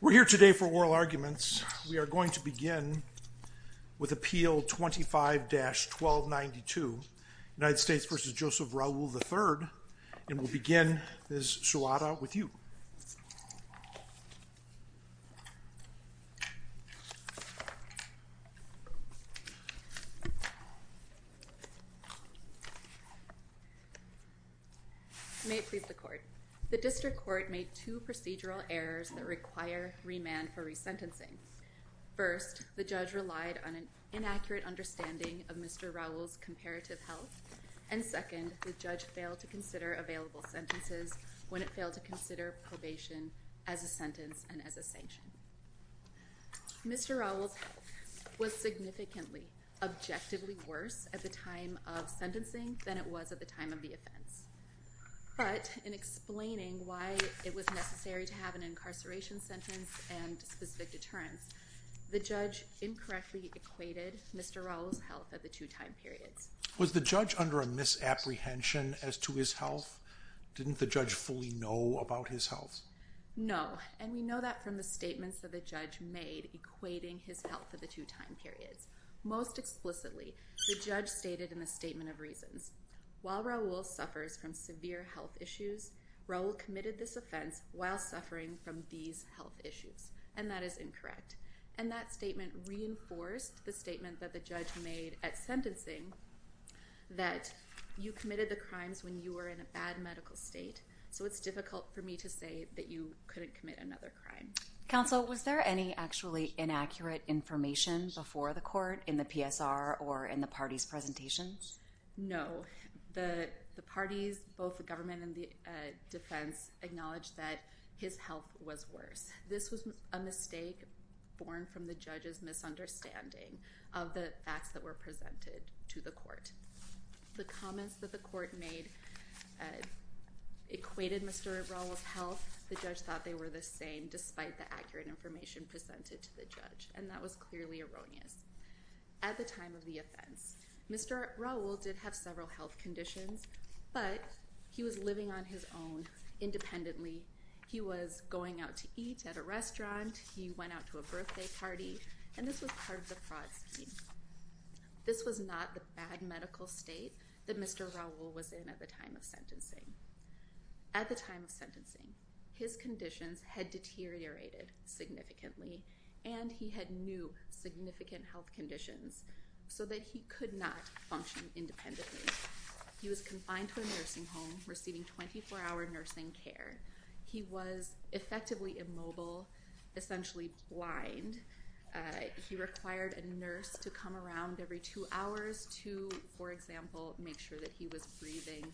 We're here today for oral arguments. We are going to begin with Appeal 25-1292, United May it please the Court. The District Court made two procedural errors that require remand for resentencing. First, the judge relied on an inaccurate understanding of Mr. Raoul's comparative health. And second, the judge failed to consider available sentences when it failed to consider probation as a sentence and as a sanction. Mr. Raoul's health was significantly, objectively worse at the time of sentencing than it was at the time of the offense. But, in explaining why it was necessary to have an incarceration sentence and specific deterrence, the judge incorrectly equated Mr. Raoul's health at the two time periods. Was the judge under a misapprehension as to his health? Didn't the judge fully know about his health? No, and we know that from the statements that the judge made equating his health at the two time periods. Most explicitly, the judge stated in the Statement of Reasons, While Raoul suffers from severe health issues, Raoul committed this offense while suffering from these health issues. And that is incorrect. And that statement reinforced the statement that the judge made at sentencing that you committed the crimes when you were in a bad medical state. So it's difficult for me to say that you couldn't commit another crime. Counsel, was there any actually inaccurate information before the court in the PSR or in the parties' presentations? No. The parties, both the government and the defense, acknowledged that his health was worse. This was a mistake born from the judge's misunderstanding of the facts that were presented to the court. The comments that the court made equated Mr. Raoul's health. The judge thought they were the same despite the accurate information presented to the judge, and that was clearly erroneous. At the time of the offense, Mr. Raoul did have several health conditions, but he was living on his own independently. He was going out to eat at a restaurant. He went out to a birthday party, and this was part of the fraud scheme. This was not the bad medical state that Mr. Raoul was in at the time of sentencing. At the time of sentencing, his conditions had deteriorated significantly, and he had new significant health conditions so that he could not function independently. He was confined to a nursing home, receiving 24-hour nursing care. He was effectively immobile, essentially blind. He required a nurse to come around every two hours to, for example, make sure that he was breathing,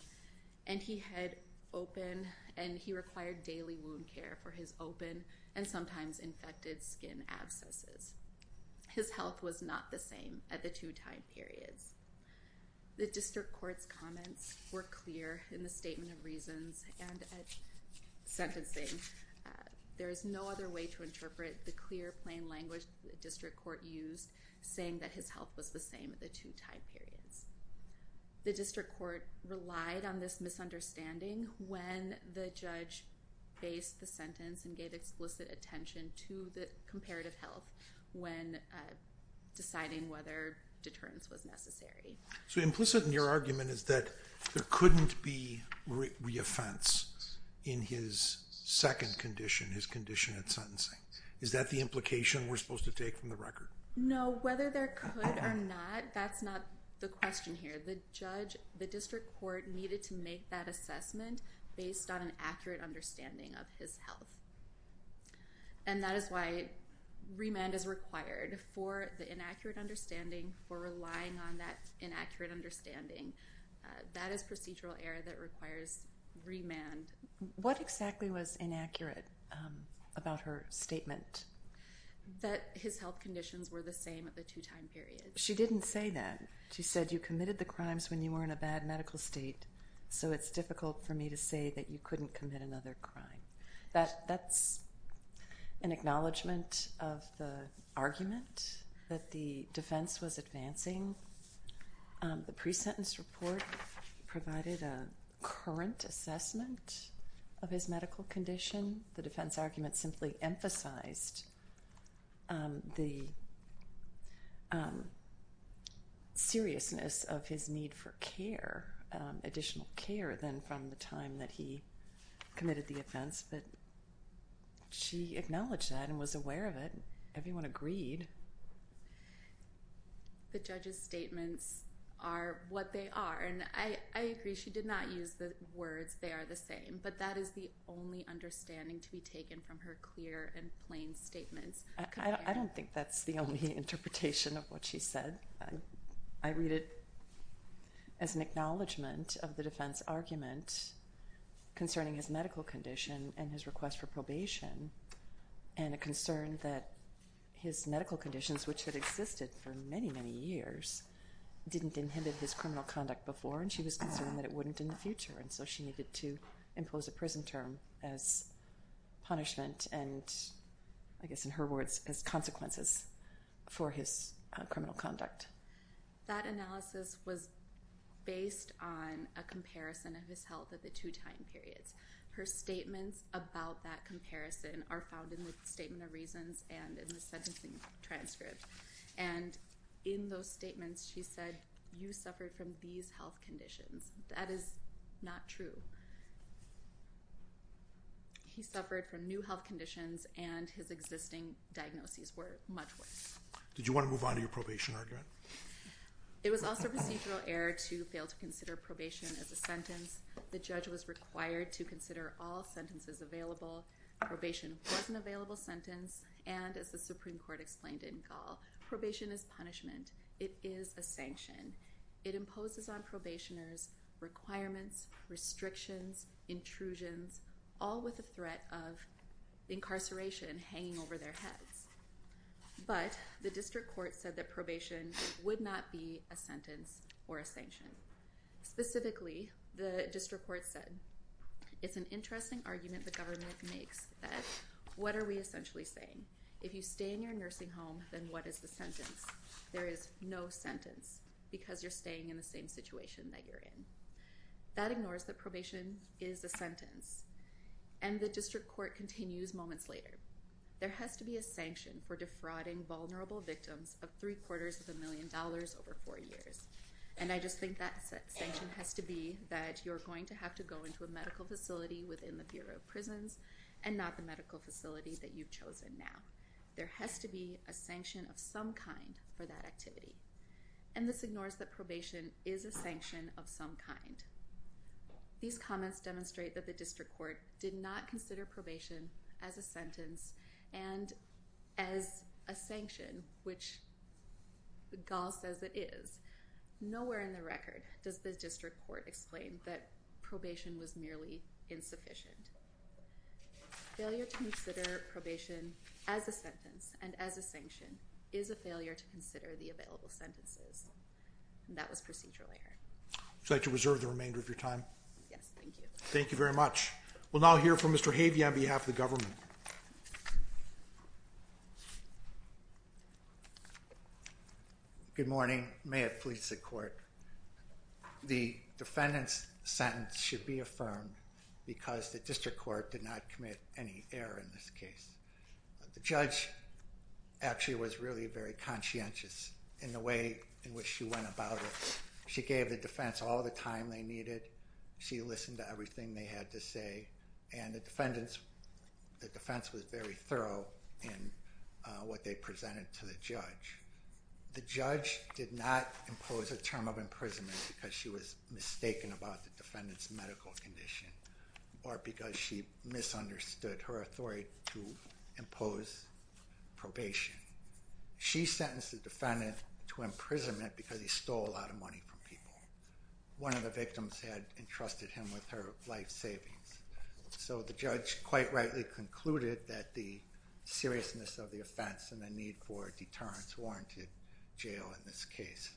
and he had open and he required daily wound care for his open and sometimes infected skin abscesses. His health was not the same at the two time periods. The district court's comments were clear in the statement of reasons and at sentencing. There is no other way to interpret the clear, plain language the district court used saying that his health was the same at the two time periods. The district court relied on this misunderstanding when the judge based the sentence and gave explicit attention to the comparative health when deciding whether deterrence was necessary. So implicit in your argument is that there couldn't be reoffense in his second condition, his condition at sentencing. Is that the implication we're supposed to take from the record? No, whether there could or not, that's not the question here. The judge, the district court needed to make that assessment based on an accurate understanding of his health. And that is why remand is required for the inaccurate understanding, for relying on that inaccurate understanding. That is procedural error that requires remand. What exactly was inaccurate about her statement? That his health conditions were the same at the two time periods. She didn't say that. She said you committed the crimes when you were in a bad medical state, so it's difficult for me to say that you couldn't commit another crime. That's an acknowledgment of the argument that the defense was advancing. The pre-sentence report provided a current assessment of his medical condition. The defense argument simply emphasized the seriousness of his need for care, additional care, than from the time that he committed the offense. But she acknowledged that and was aware of it. Everyone agreed. The judge's statements are what they are, and I agree. She did not use the words, they are the same. But that is the only understanding to be taken from her clear and plain statements. I don't think that's the only interpretation of what she said. I read it as an acknowledgment of the defense argument concerning his medical condition and his request for probation, and a concern that his medical conditions, which had existed for many, many years, didn't inhibit his criminal conduct before, and she was concerned that it wouldn't in the future. And so she needed to impose a prison term as punishment and, I guess in her words, as consequences for his criminal conduct. That analysis was based on a comparison of his health at the two time periods. Her statements about that comparison are found in the Statement of Reasons and in the sentencing transcript. And in those statements, she said, you suffered from these health conditions. That is not true. He suffered from new health conditions, and his existing diagnoses were much worse. Did you want to move on to your probation argument? It was also procedural error to fail to consider probation as a sentence. The judge was required to consider all sentences available. Probation was an available sentence, and as the Supreme Court explained in Gall, probation is punishment. It is a sanction. It imposes on probationers requirements, restrictions, intrusions, all with the threat of incarceration hanging over their heads. But the district court said that probation would not be a sentence or a sanction. Specifically, the district court said, it's an interesting argument the government makes that what are we essentially saying? If you stay in your nursing home, then what is the sentence? There is no sentence because you're staying in the same situation that you're in. That ignores that probation is a sentence. And the district court continues moments later. There has to be a sanction for defrauding vulnerable victims of three quarters of a million dollars over four years. And I just think that sanction has to be that you're going to have to go into a medical facility within the Bureau of Prisons and not the medical facility that you've chosen now. There has to be a sanction of some kind for that activity. And this ignores that probation is a sanction of some kind. These comments demonstrate that the district court did not consider probation as a sentence and as a sanction, which Gall says it is. Nowhere in the record does the district court explain that probation was merely insufficient. Failure to consider probation as a sentence and as a sanction is a failure to consider the available sentences. And that was procedural error. Would you like to reserve the remainder of your time? Yes, thank you. Thank you very much. We'll now hear from Mr. Havey on behalf of the government. Good morning. May it please the court. The defendant's sentence should be affirmed because the district court did not commit any error in this case. The judge actually was really very conscientious in the way in which she went about it. She gave the defense all the time they needed. She listened to everything they had to say. And the defense was very thorough in what they presented to the judge. The judge did not impose a term of imprisonment because she was mistaken about the defendant's medical condition or because she misunderstood her authority to impose probation. She sentenced the defendant to imprisonment because he stole a lot of money from people. One of the victims had entrusted him with her life savings. So the judge quite rightly concluded that the seriousness of the offense and the need for deterrence warranted jail in this case.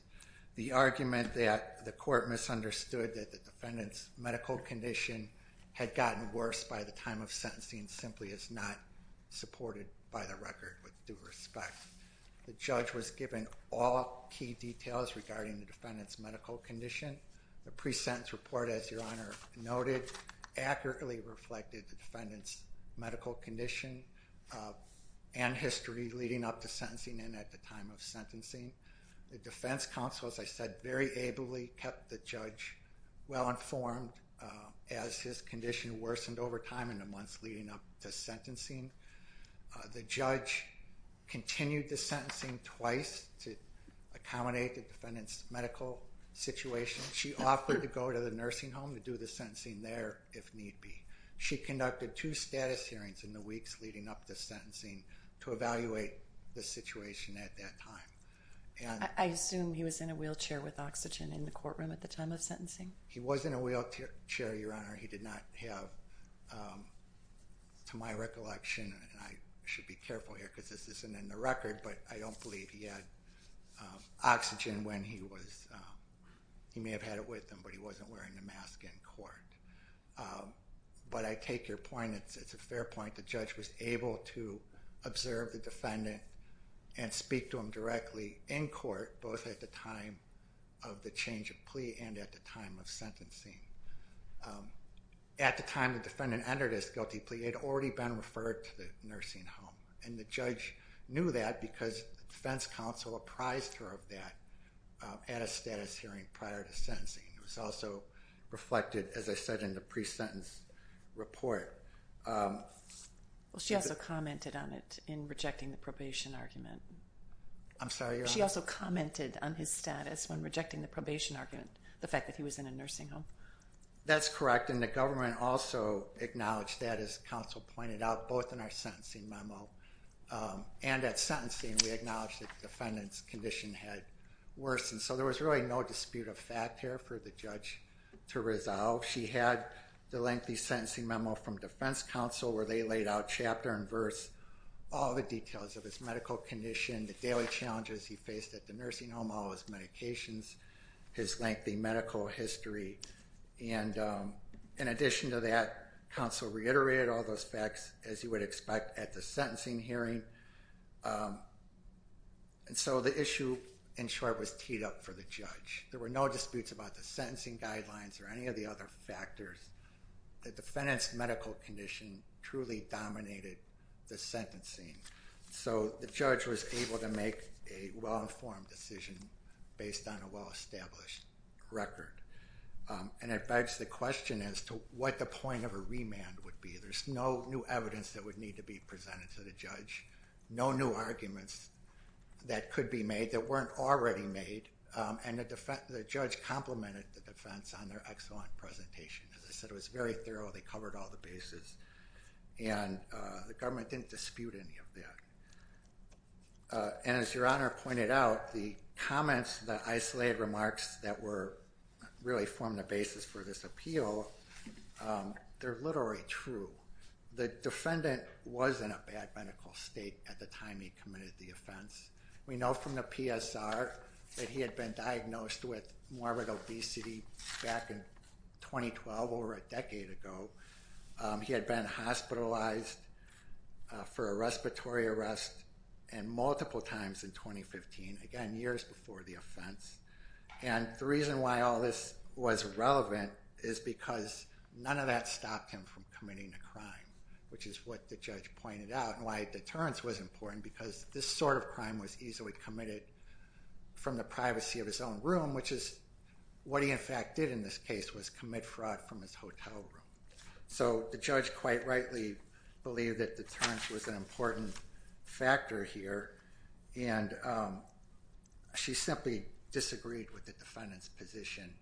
The argument that the court misunderstood that the defendant's medical condition had gotten worse by the time of sentencing simply is not supported by the record with due respect. The judge was given all key details regarding the defendant's medical condition. The pre-sentence report, as Your Honor noted, accurately reflected the defendant's medical condition and history leading up to sentencing and at the time of sentencing. The defense counsel, as I said, very ably kept the judge well informed as his condition worsened over time in the months leading up to sentencing. The judge continued the sentencing twice to accommodate the defendant's medical situation. She offered to go to the nursing home to do the sentencing there if need be. She conducted two status hearings in the weeks leading up to sentencing to evaluate the situation at that time. I assume he was in a wheelchair with oxygen in the courtroom at the time of sentencing? He was in a wheelchair, Your Honor. He did not have, to my recollection, and I should be careful here because this isn't in the record, but I don't believe he had oxygen when he was, he may have had it with him, but he wasn't wearing a mask in court. But I take your point. It's a fair point. The judge was able to observe the defendant and speak to him directly in court, both at the time of the change of plea and at the time of sentencing. At the time the defendant entered his guilty plea, he had already been referred to the nursing home, and the judge knew that because the defense counsel apprised her of that at a status hearing prior to sentencing. It was also reflected, as I said, in the pre-sentence report. Well, she also commented on it in rejecting the probation argument. I'm sorry, Your Honor? She also commented on his status when rejecting the probation argument, the fact that he was in a nursing home. That's correct, and the government also acknowledged that, as counsel pointed out, both in our sentencing memo and at sentencing. We acknowledged that the defendant's condition had worsened. So there was really no dispute of fact here for the judge to resolve. She had the lengthy sentencing memo from defense counsel where they laid out chapter and verse, all the details of his medical condition, the daily challenges he faced at the nursing home, all his medications, his lengthy medical history. And in addition to that, counsel reiterated all those facts, as you would expect, at the sentencing hearing. And so the issue, in short, was teed up for the judge. There were no disputes about the sentencing guidelines or any of the other factors. The defendant's medical condition truly dominated the sentencing. So the judge was able to make a well-informed decision based on a well-established record. And it begs the question as to what the point of a remand would be. There's no new evidence that would need to be presented to the judge, no new arguments that could be made that weren't already made. And the judge complimented the defense on their excellent presentation. As I said, it was very thorough. They covered all the bases. And the government didn't dispute any of that. And as Your Honor pointed out, the comments, the isolated remarks that were really formed the basis for this appeal, they're literally true. The defendant was in a bad medical state at the time he committed the offense. We know from the PSR that he had been diagnosed with morbid obesity back in 2012, over a decade ago. He had been hospitalized for a respiratory arrest and multiple times in 2015, again, years before the offense. And the reason why all this was relevant is because none of that stopped him from committing a crime, which is what the judge pointed out. And why a deterrence was important, because this sort of crime was easily committed from the privacy of his own room, which is what he in fact did in this case was commit fraud from his hotel room. So the judge quite rightly believed that deterrence was an important factor here, and she simply disagreed with the defendant's position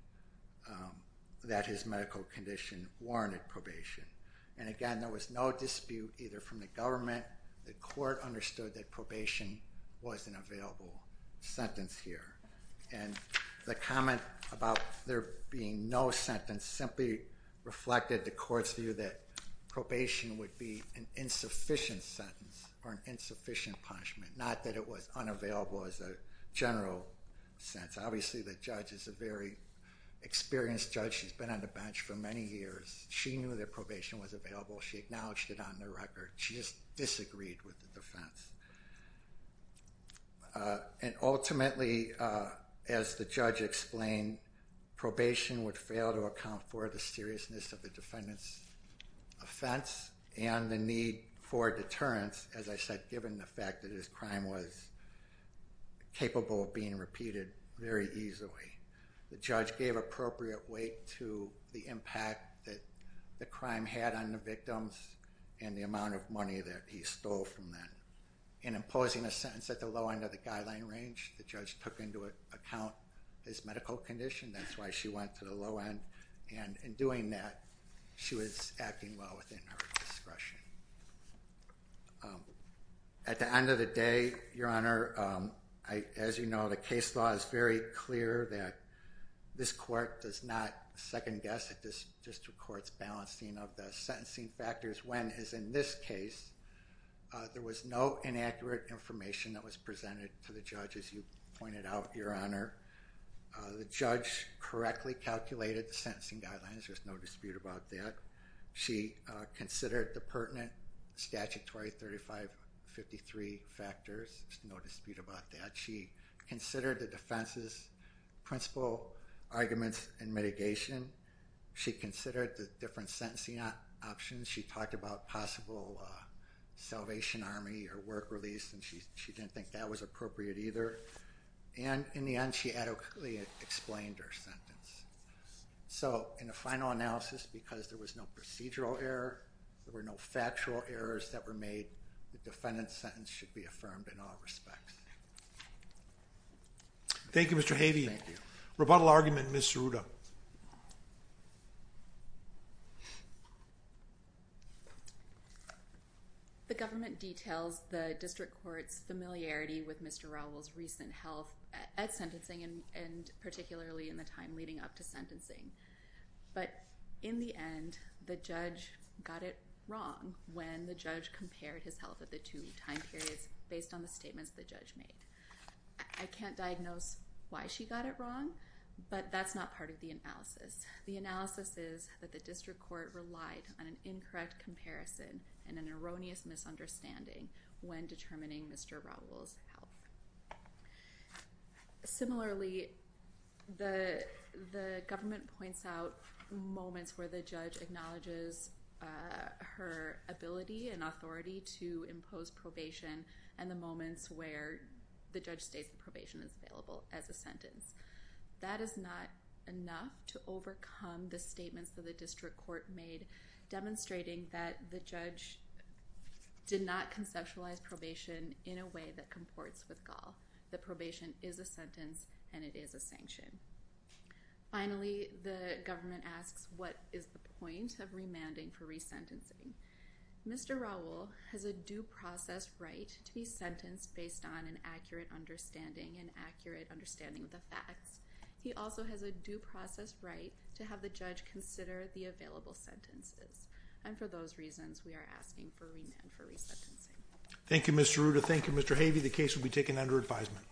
that his medical condition warranted probation. And again, there was no dispute either from the government, the court understood that probation was an available sentence here. And the comment about there being no sentence simply reflected the court's view that probation would be an insufficient sentence or an insufficient punishment, not that it was unavailable as a general sentence. Obviously, the judge is a very experienced judge. She's been on the bench for many years. She knew that probation was available. She acknowledged it on the record. She just disagreed with the defense. And ultimately, as the judge explained, probation would fail to account for the seriousness of the defendant's offense and the need for deterrence, as I said, given the fact that his crime was capable of being repeated very easily. The judge gave appropriate weight to the impact that the crime had on the victims and the amount of money that he stole from them. In imposing a sentence at the low end of the guideline range, the judge took into account his medical condition. That's why she went to the low end. And in doing that, she was acting well within her discretion. At the end of the day, Your Honor, as you know, the case law is very clear that this court does not second-guess at this district court's balancing of the sentencing factors when, as in this case, there was no inaccurate information that was presented to the judge, as you pointed out, Your Honor. The judge correctly calculated the sentencing guidelines. There's no dispute about that. She considered the pertinent statutory 3553 factors. There's no dispute about that. She considered the defense's principle arguments in mitigation. She considered the different sentencing options. She talked about possible salvation army or work release, and she didn't think that was appropriate either. And in the end, she adequately explained her sentence. So, in a final analysis, because there was no procedural error, there were no factual errors that were made, the defendant's sentence should be affirmed in all respects. Thank you, Mr. Havey. Thank you. Rebuttal argument, Ms. Ceruta. The government details the district court's familiarity with Mr. Raul's recent health at sentencing and particularly in the time leading up to sentencing. But in the end, the judge got it wrong when the judge compared his health at the two time periods based on the statements the judge made. I can't diagnose why she got it wrong, but that's not part of the analysis. The analysis is that the district court relied on an incorrect comparison and an erroneous misunderstanding when determining Mr. Raul's health. Similarly, the government points out moments where the judge acknowledges her ability and authority to impose probation and the moments where the judge states that probation is available as a sentence. That is not enough to overcome the statements that the district court made demonstrating that the judge did not conceptualize probation in a way that comports with Gaul. That probation is a sentence and it is a sanction. Finally, the government asks what is the point of remanding for resentencing. Mr. Raul has a due process right to be sentenced based on an accurate understanding and accurate understanding of the facts. He also has a due process right to have the judge consider the available sentences. And for those reasons, we are asking for remand for resentencing. Thank you, Mr. Ruda. Thank you, Mr. Havey. The case will be taken under advisement.